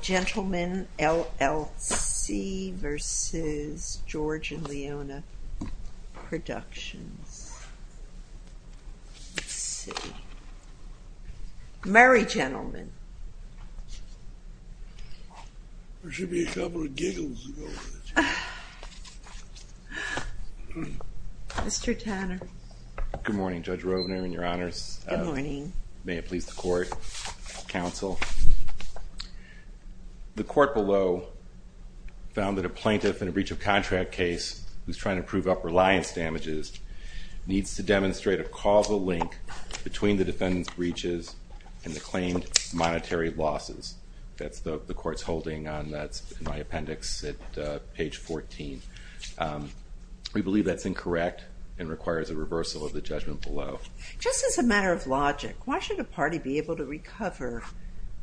Gentleman, LLC v. George and Leona Productions, let's see, Mary Gentleman. There should be a couple of giggles that go with it. Mr. Tanner. Good morning Judge Rovner and your honors. Good morning. May it please the court, counsel. The court below found that a plaintiff in a breach of contract case who's trying to prove up reliance damages needs to demonstrate a causal link between the defendant's breaches and the claimed monetary losses. That's the court's holding and that's in my appendix at page 14. We believe that's incorrect and requires a reversal of the judgment below. Just as a matter of logic, why should a party be able to recover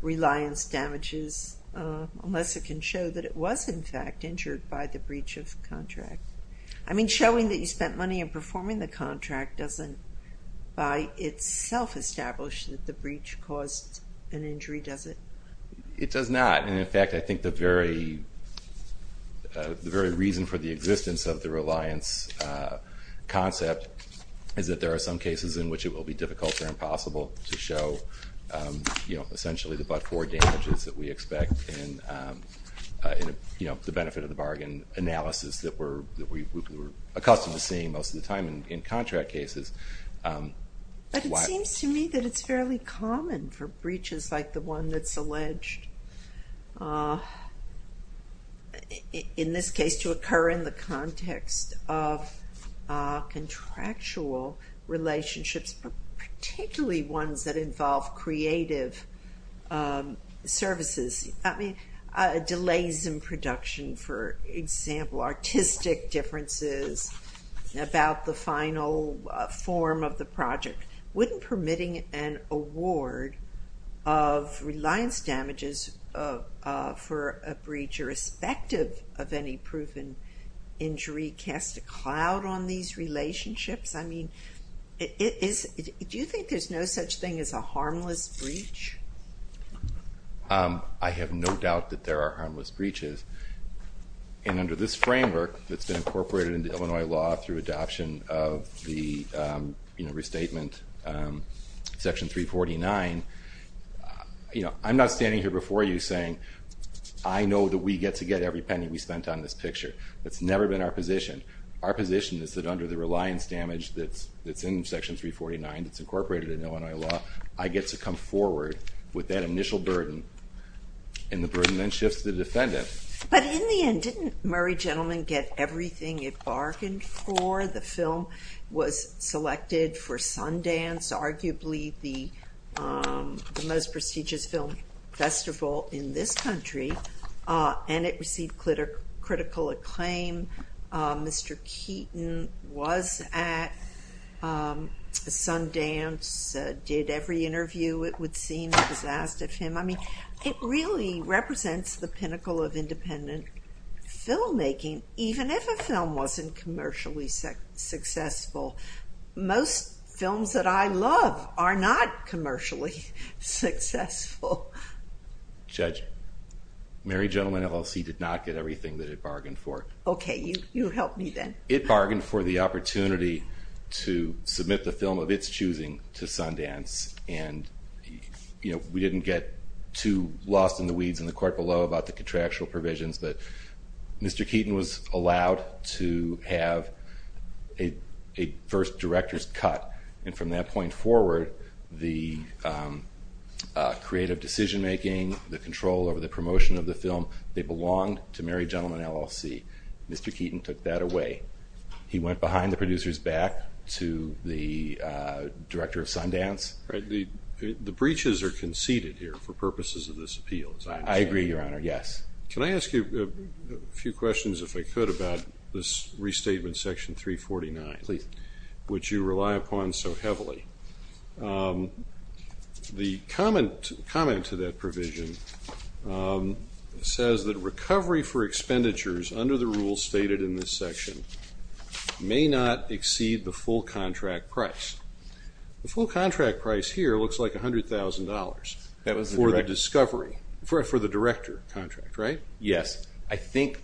reliance damages unless it can show that it was in fact injured by the breach of contract? I mean showing that you spent money in performing the contract doesn't by itself establish that the breach caused an injury, does it? It does not and in fact I think the very reason for the existence of the reliance concept is that there are some cases in which it will be difficult or impossible to show essentially the but-for damages that we expect in the benefit of the bargain analysis that we're accustomed to seeing most of the time in contract cases. But it seems to me that it's fairly common for breaches like the one that's alleged, in this case to occur in the context of contractual relationships, particularly ones that involve creative services. Delays in production, for example, artistic differences about the final form of the project wouldn't permitting an award of reliance damages for a breach irrespective of any proven injury cast a cloud on these relationships? I mean do you think there's no such thing as a harmless breach? I have no doubt that there are harmless breaches and under this framework that's been incorporated into Illinois law through adoption of the restatement section 349, I'm not standing here before you saying I know that we get to get every penny we spent on this picture. That's never been our position. Our position is that under the reliance damage that's in section 349 that's incorporated in Illinois law, I get to come forward with that initial burden and the burden then shifts to the defendant. But in the end didn't Murray Gentleman get everything it bargained for? The film was selected for Sundance, arguably the most prestigious film festival in this country, and it received critical acclaim. Mr. Keaton was at Sundance, did every interview it would seem, I mean it really represents the pinnacle of independent filmmaking, even if a film wasn't commercially successful. Most films that I love are not commercially successful. Judge, Murray Gentleman LLC did not get everything that it bargained for. Okay, you help me then. It bargained for the opportunity to submit the film of its choosing to Sundance and we didn't get too lost in the weeds in the court below about the contractual provisions, but Mr. Keaton was allowed to have a first director's cut and from that point forward the creative decision making, the control over the promotion of the film, they belonged to Murray Gentleman LLC. Mr. Keaton took that away. He went behind the producer's back to the director of Sundance. The breaches are conceded here for purposes of this appeal. I agree, Your Honor, yes. Can I ask you a few questions if I could about this restatement section 349? Please. Which you rely upon so heavily. The comment to that provision says that recovery for expenditures under the rules stated in this section may not exceed the full contract price. The full contract price here looks like $100,000 for the discovery, for the director contract, right? Yes. I think,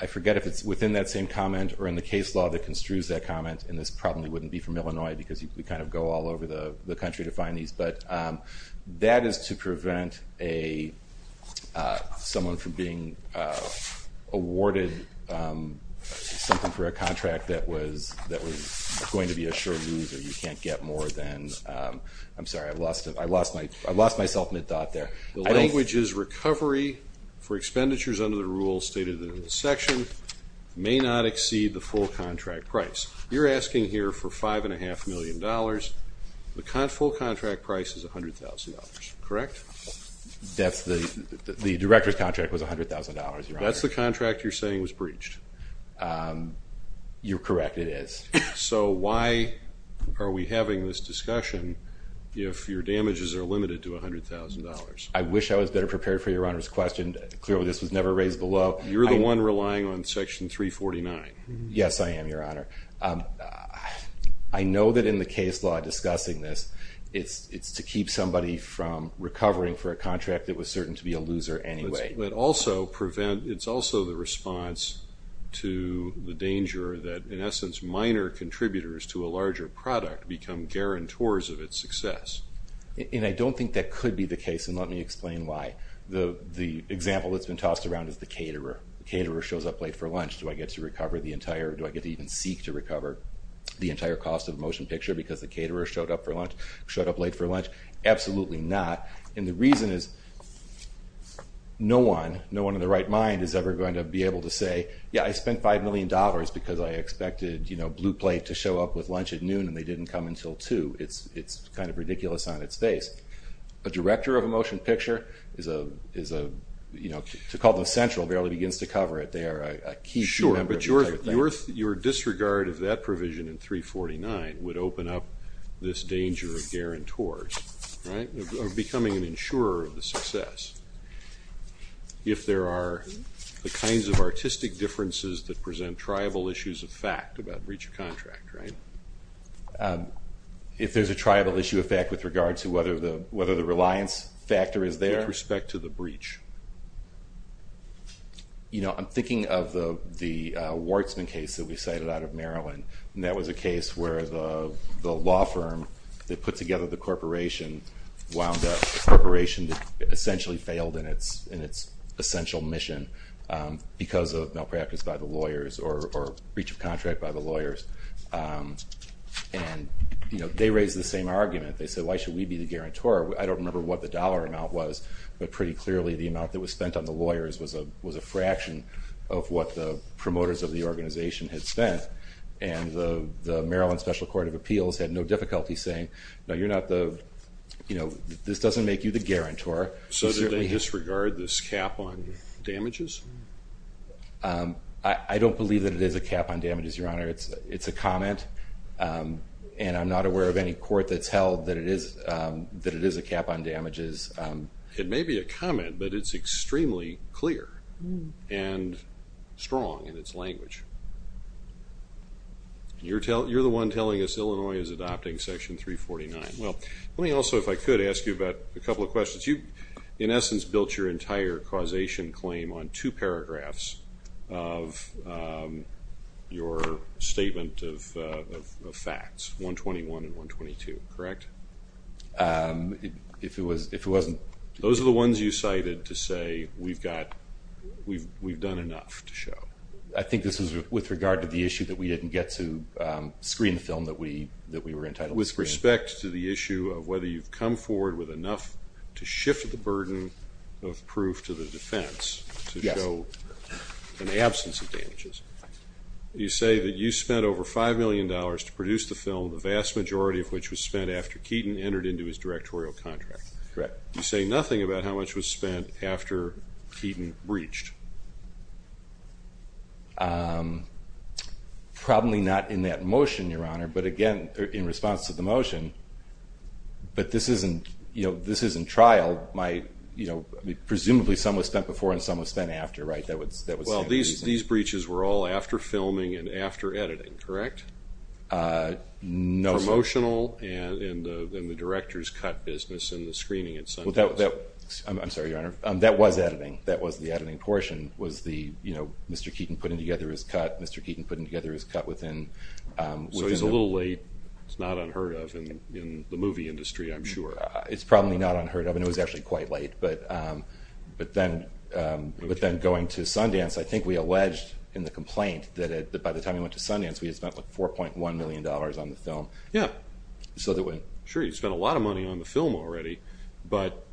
I forget if it's within that same comment or in the case law that construes that comment, and this probably wouldn't be from Illinois because we kind of go all over the country to find these, but that is to prevent someone from being awarded something for a contract that was going to be a sure loser. You can't get more than, I'm sorry, I lost myself mid-thought there. The language is recovery for expenditures under the rules stated in this section may not exceed the full contract price. You're asking here for $5.5 million. The full contract price is $100,000, correct? The director's contract was $100,000, Your Honor. That's the contract you're saying was breached. You're correct, it is. So why are we having this discussion if your damages are limited to $100,000? I wish I was better prepared for Your Honor's question. Clearly this was never raised below. You're the one relying on section 349. Yes, I am, Your Honor. I know that in the case law discussing this, it's to keep somebody from recovering for a contract that was certain to be a loser anyway. But also prevent, it's also the response to the danger that, in essence, minor contributors to a larger product become guarantors of its success. And I don't think that could be the case, and let me explain why. The example that's been tossed around is the caterer. The caterer shows up late for lunch, do I get to recover the entire, do I get to even seek to recover the entire cost of a motion picture because the caterer showed up for lunch, showed up late for lunch? Absolutely not. And the reason is no one, no one in their right mind is ever going to be able to say, yeah, I spent $5 million because I expected, you know, Blue Plate to show up with lunch at noon and they didn't come until 2. It's kind of ridiculous on its face. A director of a motion picture is a, you know, to call them central barely begins to cover it. They are a key member of the entire thing. Your disregard of that provision in 349 would open up this danger of guarantors, right, of becoming an insurer of the success if there are the kinds of artistic differences that present tribal issues of fact about breach of contract, right? If there's a tribal issue of fact with regard to whether the reliance factor is there. With respect to the breach. You know, I'm thinking of the Wartsman case that we cited out of Maryland, and that was a case where the law firm that put together the corporation wound up, a corporation that essentially failed in its essential mission because of malpractice by the lawyers or breach of contract by the lawyers. And, you know, they raised the same argument. They said, why should we be the guarantor? I don't remember what the dollar amount was, but pretty clearly the amount that was spent on the lawyers was a fraction of what the promoters of the organization had spent. And the Maryland Special Court of Appeals had no difficulty saying, no, you're not the, you know, this doesn't make you the guarantor. So did they disregard this cap on damages? I don't believe that it is a cap on damages, Your Honor. It's a comment, and I'm not aware of any court that's held that it is a cap on damages. It may be a comment, but it's extremely clear and strong in its language. You're the one telling us Illinois is adopting Section 349. Well, let me also, if I could, ask you about a couple of questions. You, in essence, built your entire causation claim on two paragraphs of your statement of facts, 121 and 122, correct? If it wasn't. Those are the ones you cited to say we've got, we've done enough to show. I think this was with regard to the issue that we didn't get to screen the film that we were entitled to screen. With respect to the issue of whether you've come forward with enough to shift the burden of proof to the defense to show an absence of damages, you say that you spent over $5 million to produce the film, the vast majority of which was spent after Keaton entered into his directorial contract. Correct. You say nothing about how much was spent after Keaton breached. Probably not in that motion, Your Honor, but again, in response to the motion, but this isn't trial. Presumably some was spent before and some was spent after, right? Well, these breaches were all after filming and after editing, correct? No, sir. Promotional and then the director's cut business and the screening itself. I'm sorry, Your Honor. That was editing. That was the editing portion was the, you know, Mr. Keaton putting together his cut, Mr. Keaton putting together his cut within... So it was a little late. It's not unheard of in the movie industry, I'm sure. It's probably not unheard of and it was actually quite late, but then going to Sundance, I think we alleged in the complaint that by the time we went to Sundance, we had spent like $4.1 million on the film. Yeah. Sure, you spent a lot of money on the film already, but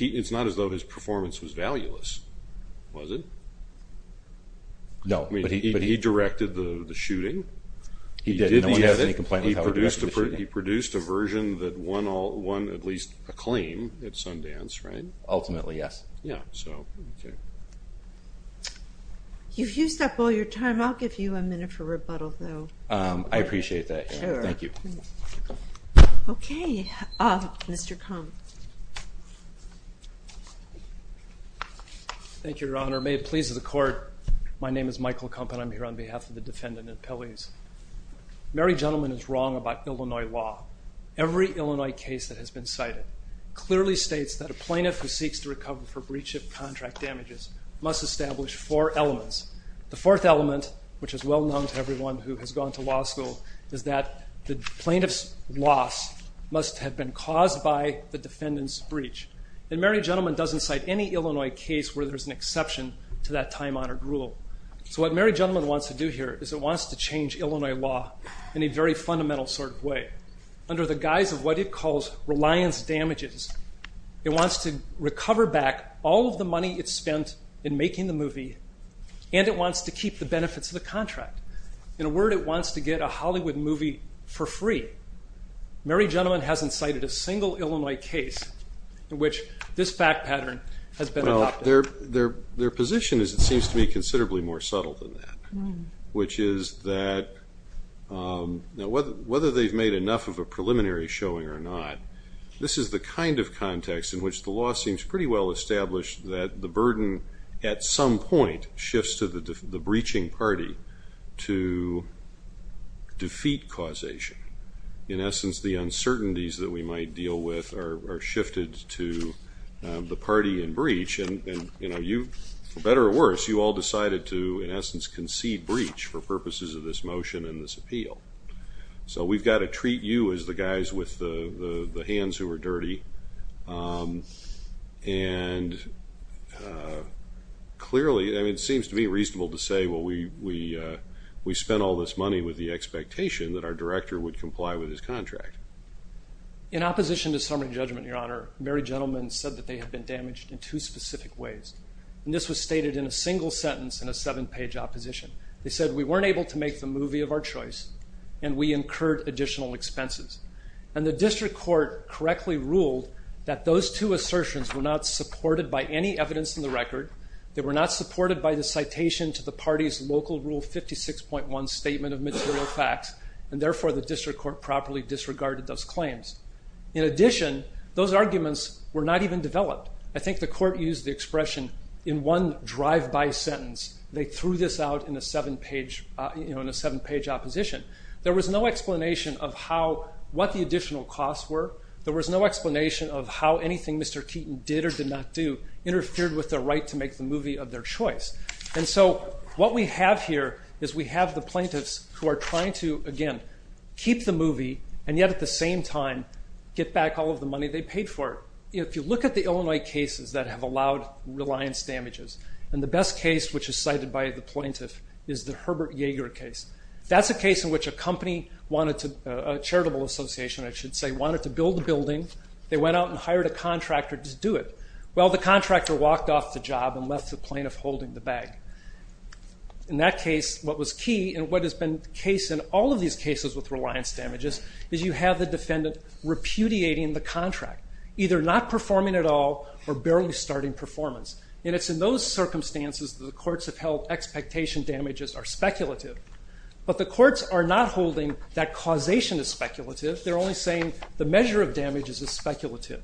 it's not as though his performance was valueless, was it? No, but he... He directed the shooting. He did the edit. He produced a version that won at least acclaim at Sundance, right? Ultimately, yes. Yeah, so, okay. You've used up all your time. I'll give you a minute for rebuttal, though. I appreciate that, Your Honor. Sure. Thank you. Okay, Mr. Kump. Thank you, Your Honor. May it please the Court, my name is Michael Kump and I'm here on behalf of the defendant and appellees. Mary Gentleman is wrong about Illinois law. Every Illinois case that has been cited clearly states that a plaintiff who seeks to recover for breach of contract damages must establish four elements. The fourth element, which is well known to everyone who has gone to law school, is that the plaintiff's loss must have been caused by the defendant's breach. And Mary Gentleman doesn't cite any Illinois case where there's an exception to that time-honored rule. So what Mary Gentleman wants to do here is it wants to change Illinois law in a very fundamental sort of way. Under the guise of what it calls reliance damages, it wants to recover back all of the money it spent in making the movie and it wants to keep the benefits of the contract. In a word, it wants to get a Hollywood movie for free. Mary Gentleman hasn't cited a single Illinois case in which this fact pattern has been adopted. Well, their position is it seems to be considerably more subtle than that, which is that whether they've made enough of a preliminary showing or not, this is the kind of context in which the law seems pretty well established that the burden at some point shifts to the breaching party to defeat causation. In essence, the uncertainties that we might deal with are shifted to the party in breach, and for better or worse, you all decided to, in essence, concede breach for purposes of this motion and this appeal. So we've got to treat you as the guys with the hands who are dirty, and clearly, I mean, it seems to be reasonable to say, well, we spent all this money with the expectation that our director would comply with his contract. In opposition to summary judgment, Your Honor, Mary Gentleman said that they had been damaged in two specific ways, and this was stated in a single sentence in a seven-page opposition. They said we weren't able to make the movie of our choice, and we incurred additional expenses. And the district court correctly ruled that those two assertions were not supported by any evidence in the record. They were not supported by the citation to the party's local Rule 56.1 statement of material facts, and therefore the district court properly disregarded those claims. In addition, those arguments were not even developed. I think the court used the expression in one drive-by sentence. They threw this out in a seven-page opposition. There was no explanation of what the additional costs were. There was no explanation of how anything Mr. Keaton did or did not do interfered with their right to make the movie of their choice. And so what we have here is we have the plaintiffs who are trying to, again, keep the movie and yet at the same time get back all of the money they paid for it. If you look at the Illinois cases that have allowed reliance damages, and the best case which is cited by the plaintiff is the Herbert Yeager case. That's a case in which a company wanted to, a charitable association I should say, wanted to build a building. They went out and hired a contractor to do it. Well, the contractor walked off the job and left the plaintiff holding the bag. In that case, what was key and what has been the case in all of these cases with reliance damages is you have the defendant repudiating the contract, either not performing at all or barely starting performance. And it's in those circumstances that the courts have held expectation damages are speculative. But the courts are not holding that causation is speculative. They're only saying the measure of damages is speculative.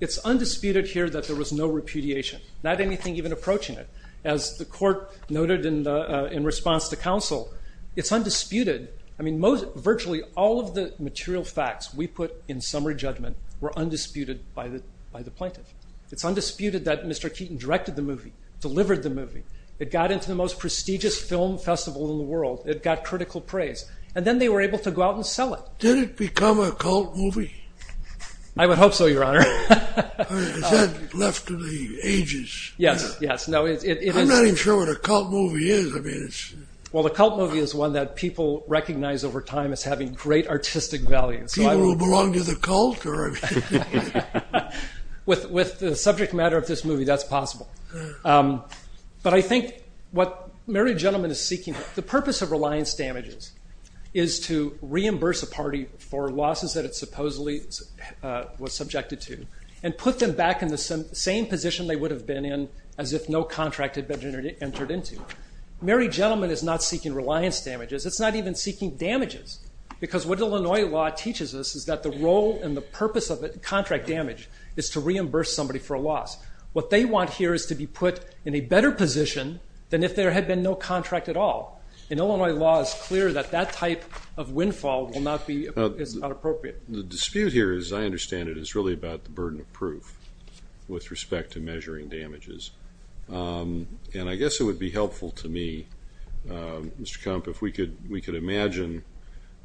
It's undisputed here that there was no repudiation, not anything even approaching it. As the court noted in response to counsel, it's undisputed. Virtually all of the material facts we put in summary judgment were undisputed by the plaintiff. It's undisputed that Mr. Keaton directed the movie, delivered the movie. It got into the most prestigious film festival in the world. It got critical praise. And then they were able to go out and sell it. Did it become a cult movie? I would hope so, Your Honor. Is that left to the ages? Yes, yes. I'm not even sure what a cult movie is. Well, the cult movie is one that people recognize over time as having great artistic value. People who belong to the cult? With the subject matter of this movie, that's possible. But I think what Mary Gentleman is seeking, the purpose of reliance damages, is to reimburse a party for losses that it supposedly was subjected to and put them back in the same position they would have been in as if no contract had been entered into. Mary Gentleman is not seeking reliance damages. It's not even seeking damages. Because what Illinois law teaches us is that the role and the purpose of contract damage is to reimburse somebody for a loss. What they want here is to be put in a better position than if there had been no contract at all. And Illinois law is clear that that type of windfall is not appropriate. The dispute here, as I understand it, is really about the burden of proof with respect to measuring damages. And I guess it would be helpful to me, Mr. Kemp, if we could imagine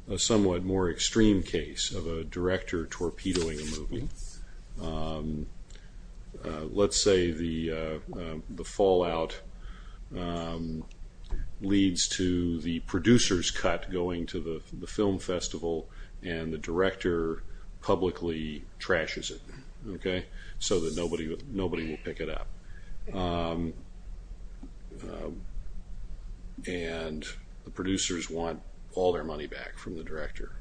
a somewhat more extreme case of a director torpedoing a movie. Let's say the fallout leads to the producer's cut going to the film festival and the director publicly trashes it so that nobody will pick it up. And the producers want all their money back from the director.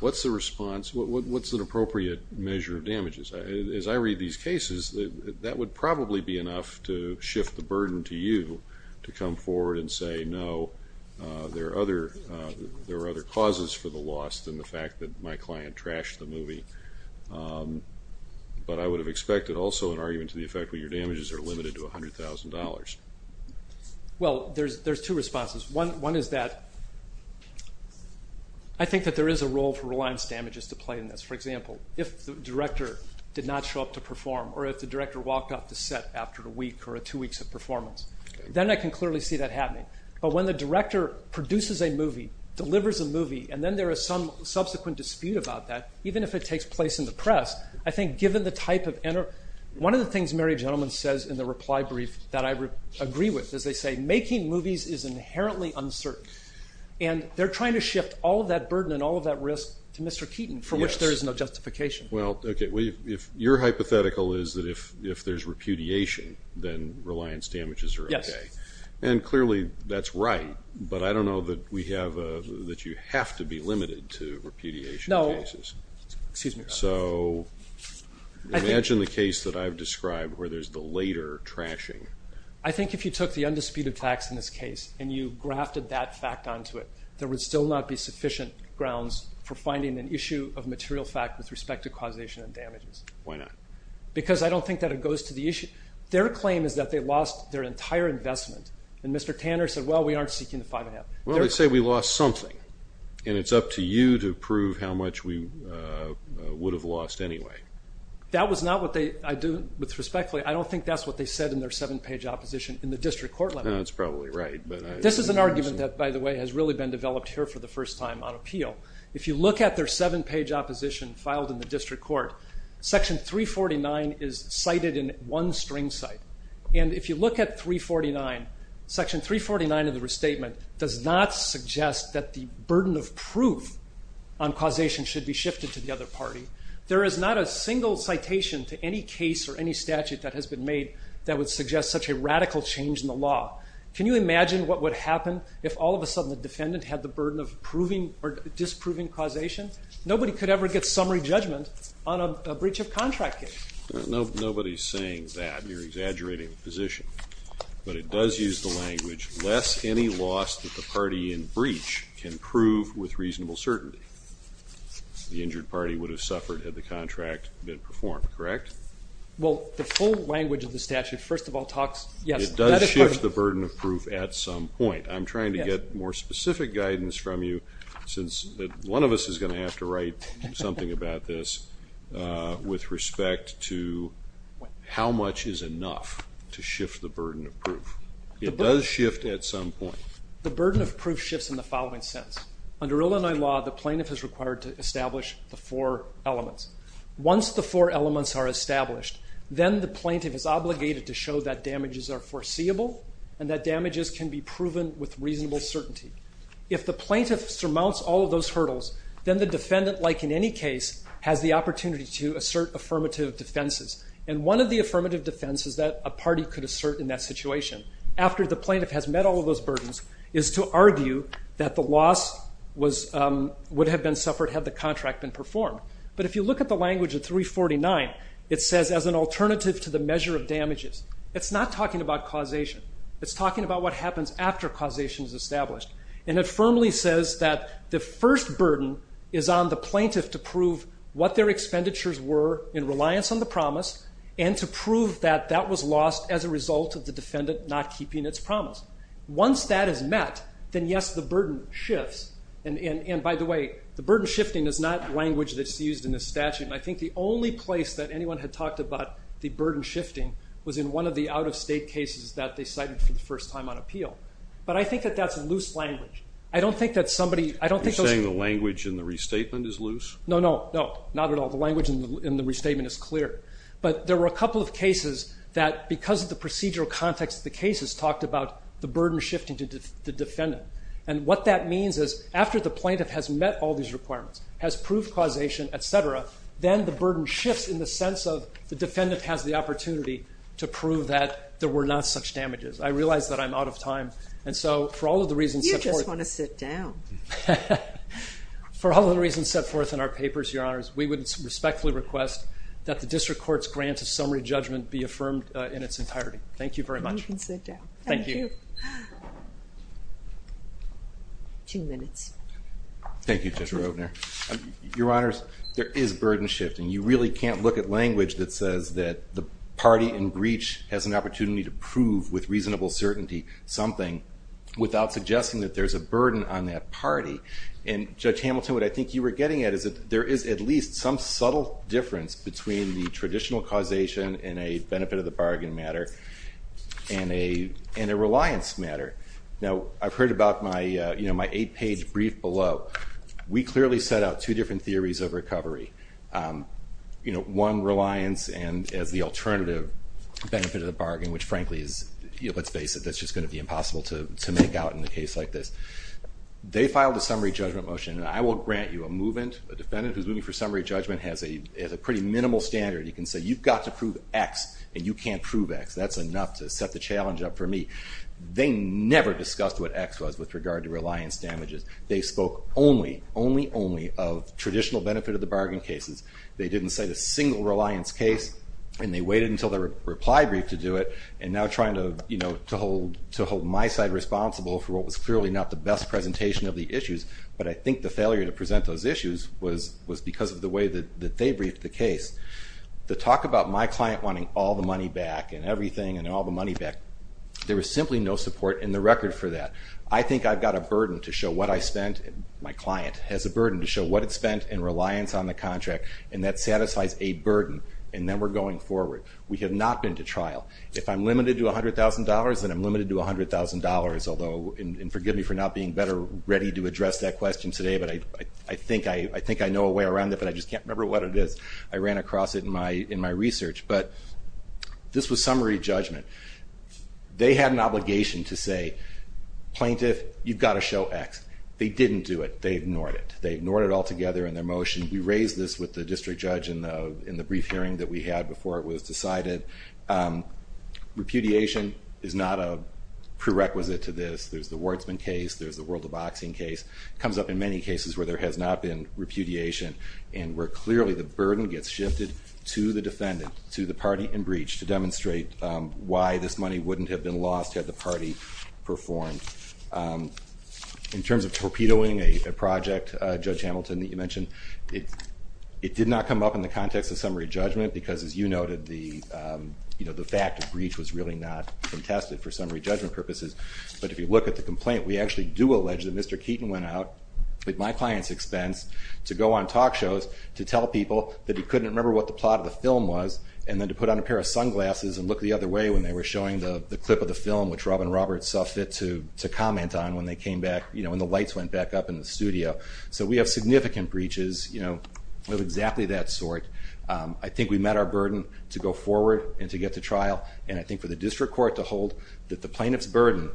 What's the response? What's an appropriate measure of damages? As I read these cases, that would probably be enough to shift the burden to you to come forward and say, no, there are other causes for the loss than the fact that my client trashed the movie. But I would have expected also an argument to the effect that your damages are limited to $100,000. Well, there's two responses. One is that I think that there is a role for reliance damages to play in this. For example, if the director did not show up to perform or if the director walked off the set after a week or two weeks of performance, then I can clearly see that happening. But when the director produces a movie, delivers a movie, and then there is some subsequent dispute about that, even if it takes place in the press, I think given the type of... One of the things Mary Gentleman says in the reply brief that I agree with, is they say making movies is inherently uncertain. And they're trying to shift all of that burden and all of that risk to Mr. Keaton, for which there is no justification. Well, okay, your hypothetical is that if there's repudiation, then reliance damages are okay. Yes. And clearly that's right, but I don't know that we have... that you have to be limited to repudiation cases. Excuse me. So imagine the case that I've described where there's the later trashing. I think if you took the undisputed facts in this case and you grafted that fact onto it, there would still not be sufficient grounds for finding an issue of material fact with respect to causation and damages. Why not? Because I don't think that it goes to the issue. Their claim is that they lost their entire investment. And Mr. Tanner said, well, we aren't seeking the five and a half. Well, let's say we lost something. And it's up to you to prove how much we would have lost anyway. That was not what I do with respect. I don't think that's what they said in their seven-page opposition in the district court level. That's probably right. This is an argument that, by the way, has really been developed here for the first time on appeal. If you look at their seven-page opposition filed in the district court, Section 349 is cited in one string cite. And if you look at 349, Section 349 of the restatement does not suggest that the burden of proof on causation should be shifted to the other party. There is not a single citation to any case or any statute that has been made that would suggest such a radical change in the law. Can you imagine what would happen if all of a sudden the defendant had the burden of disproving causation? Nobody could ever get summary judgment on a breach of contract case. Nobody is saying that. You're exaggerating the position. But it does use the language, less any loss that the party in breach can prove with reasonable certainty. The injured party would have suffered had the contract been performed. Correct? Well, the full language of the statute, first of all, talks, yes. It does shift the burden of proof at some point. I'm trying to get more specific guidance from you, since one of us is going to have to write something about this with respect to how much is enough to shift the burden of proof. It does shift at some point. The burden of proof shifts in the following sense. Under Illinois law, the plaintiff is required to establish the four elements. Once the four elements are established, then the plaintiff is obligated to show that damages are foreseeable and that damages can be proven with reasonable certainty. If the plaintiff surmounts all of those hurdles, then the defendant, like in any case, has the opportunity to assert affirmative defenses. And one of the affirmative defenses that a party could assert in that situation, after the plaintiff has met all of those burdens, is to argue that the loss would have been suffered had the contract been performed. But if you look at the language of 349, it says as an alternative to the measure of damages. It's not talking about causation. It's talking about what happens after causation is established. And it firmly says that the first burden is on the plaintiff to prove what their expenditures were in reliance on the promise and to prove that that was lost as a result of the defendant not keeping its promise. Once that is met, then yes, the burden shifts. And by the way, the burden shifting is not language that's used in this statute. And I think the only place that anyone had talked about the burden shifting was in one of the out-of-state cases that they cited for the first time on appeal. But I think that that's loose language. I don't think that somebody... You're saying the language in the restatement is loose? No, no, no, not at all. The language in the restatement is clear. But there were a couple of cases that, because of the procedural context of the cases, talked about the burden shifting to the defendant. And what that means is after the plaintiff has met all these requirements, has proved causation, et cetera, then the burden shifts in the sense of the defendant has the opportunity to prove that there were not such damages. I realize that I'm out of time, and so for all of the reasons set forth... You just want to sit down. For all of the reasons set forth in our papers, Your Honors, we would respectfully request that the district court's grant of summary judgment be affirmed in its entirety. Thank you very much. You can sit down. Thank you. Two minutes. Thank you, Judge Roedner. Your Honors, there is burden shifting. You really can't look at language that says that the party in breach has an opportunity to prove with reasonable certainty something without suggesting that there's a burden on that party. And, Judge Hamilton, what I think you were getting at is that there is at least some subtle difference between the traditional causation and a benefit of the bargain matter and a reliance matter. Now, I've heard about my eight-page brief below. We clearly set out two different theories of recovery, one reliance and as the alternative benefit of the bargain, which frankly is, let's face it, that's just going to be impossible to make out in a case like this. They filed a summary judgment motion, and I will grant you a defendant who's moving for summary judgment has a pretty minimal standard. You can say you've got to prove X and you can't prove X. That's enough to set the challenge up for me. They never discussed what X was with regard to reliance damages. They spoke only, only, only of traditional benefit of the bargain cases. They didn't cite a single reliance case, and they waited until the reply brief to do it, and now trying to hold my side responsible for what was clearly not the best presentation of the issues. But I think the failure to present those issues was because of the way that they briefed the case. The talk about my client wanting all the money back and everything and all the money back, there was simply no support in the record for that. I think I've got a burden to show what I spent. My client has a burden to show what it spent in reliance on the contract, and that satisfies a burden, and then we're going forward. We have not been to trial. If I'm limited to $100,000, then I'm limited to $100,000, and forgive me for not being better ready to address that question today, but I think I know a way around it, but I just can't remember what it is. I ran across it in my research. But this was summary judgment. They had an obligation to say, Plaintiff, you've got to show X. They didn't do it. They ignored it. They ignored it altogether in their motion. We raised this with the district judge in the brief hearing that we had before it was decided. Repudiation is not a prerequisite to this. There's the Wardsman case, there's the world of boxing case. It comes up in many cases where there has not been repudiation and where clearly the burden gets shifted to the defendant, to the party in breach to demonstrate why this money wouldn't have been lost had the party performed. In terms of torpedoing a project, Judge Hamilton, that you mentioned, it did not come up in the context of summary judgment because, as you noted, the fact of breach was really not contested for summary judgment purposes. But if you look at the complaint, we actually do allege that Mr. Keaton went out, at my client's expense, to go on talk shows to tell people that he couldn't remember what the plot of the film was, and then to put on a pair of sunglasses and look the other way when they were showing the clip of the film, which Robin Roberts saw fit to comment on when the lights went back up in the studio. So we have significant breaches of exactly that sort. I think we met our burden to go forward and to get to trial, and I think for the district court to hold that the plaintiff's burden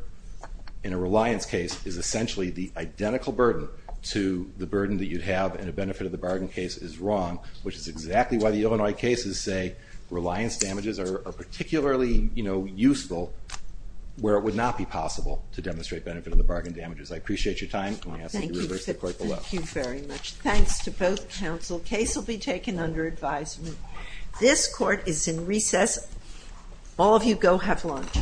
in a reliance case is essentially the identical burden to the burden that you'd have in a benefit of the bargain case is wrong, which is exactly why the Illinois cases say reliance damages are particularly useful where it would not be possible to demonstrate benefit of the bargain damages. I appreciate your time, and I ask that you reverse the court vote. Thank you very much. Thanks to both counsel. Case will be taken under advisement. This court is in recess. All of you go have lunch.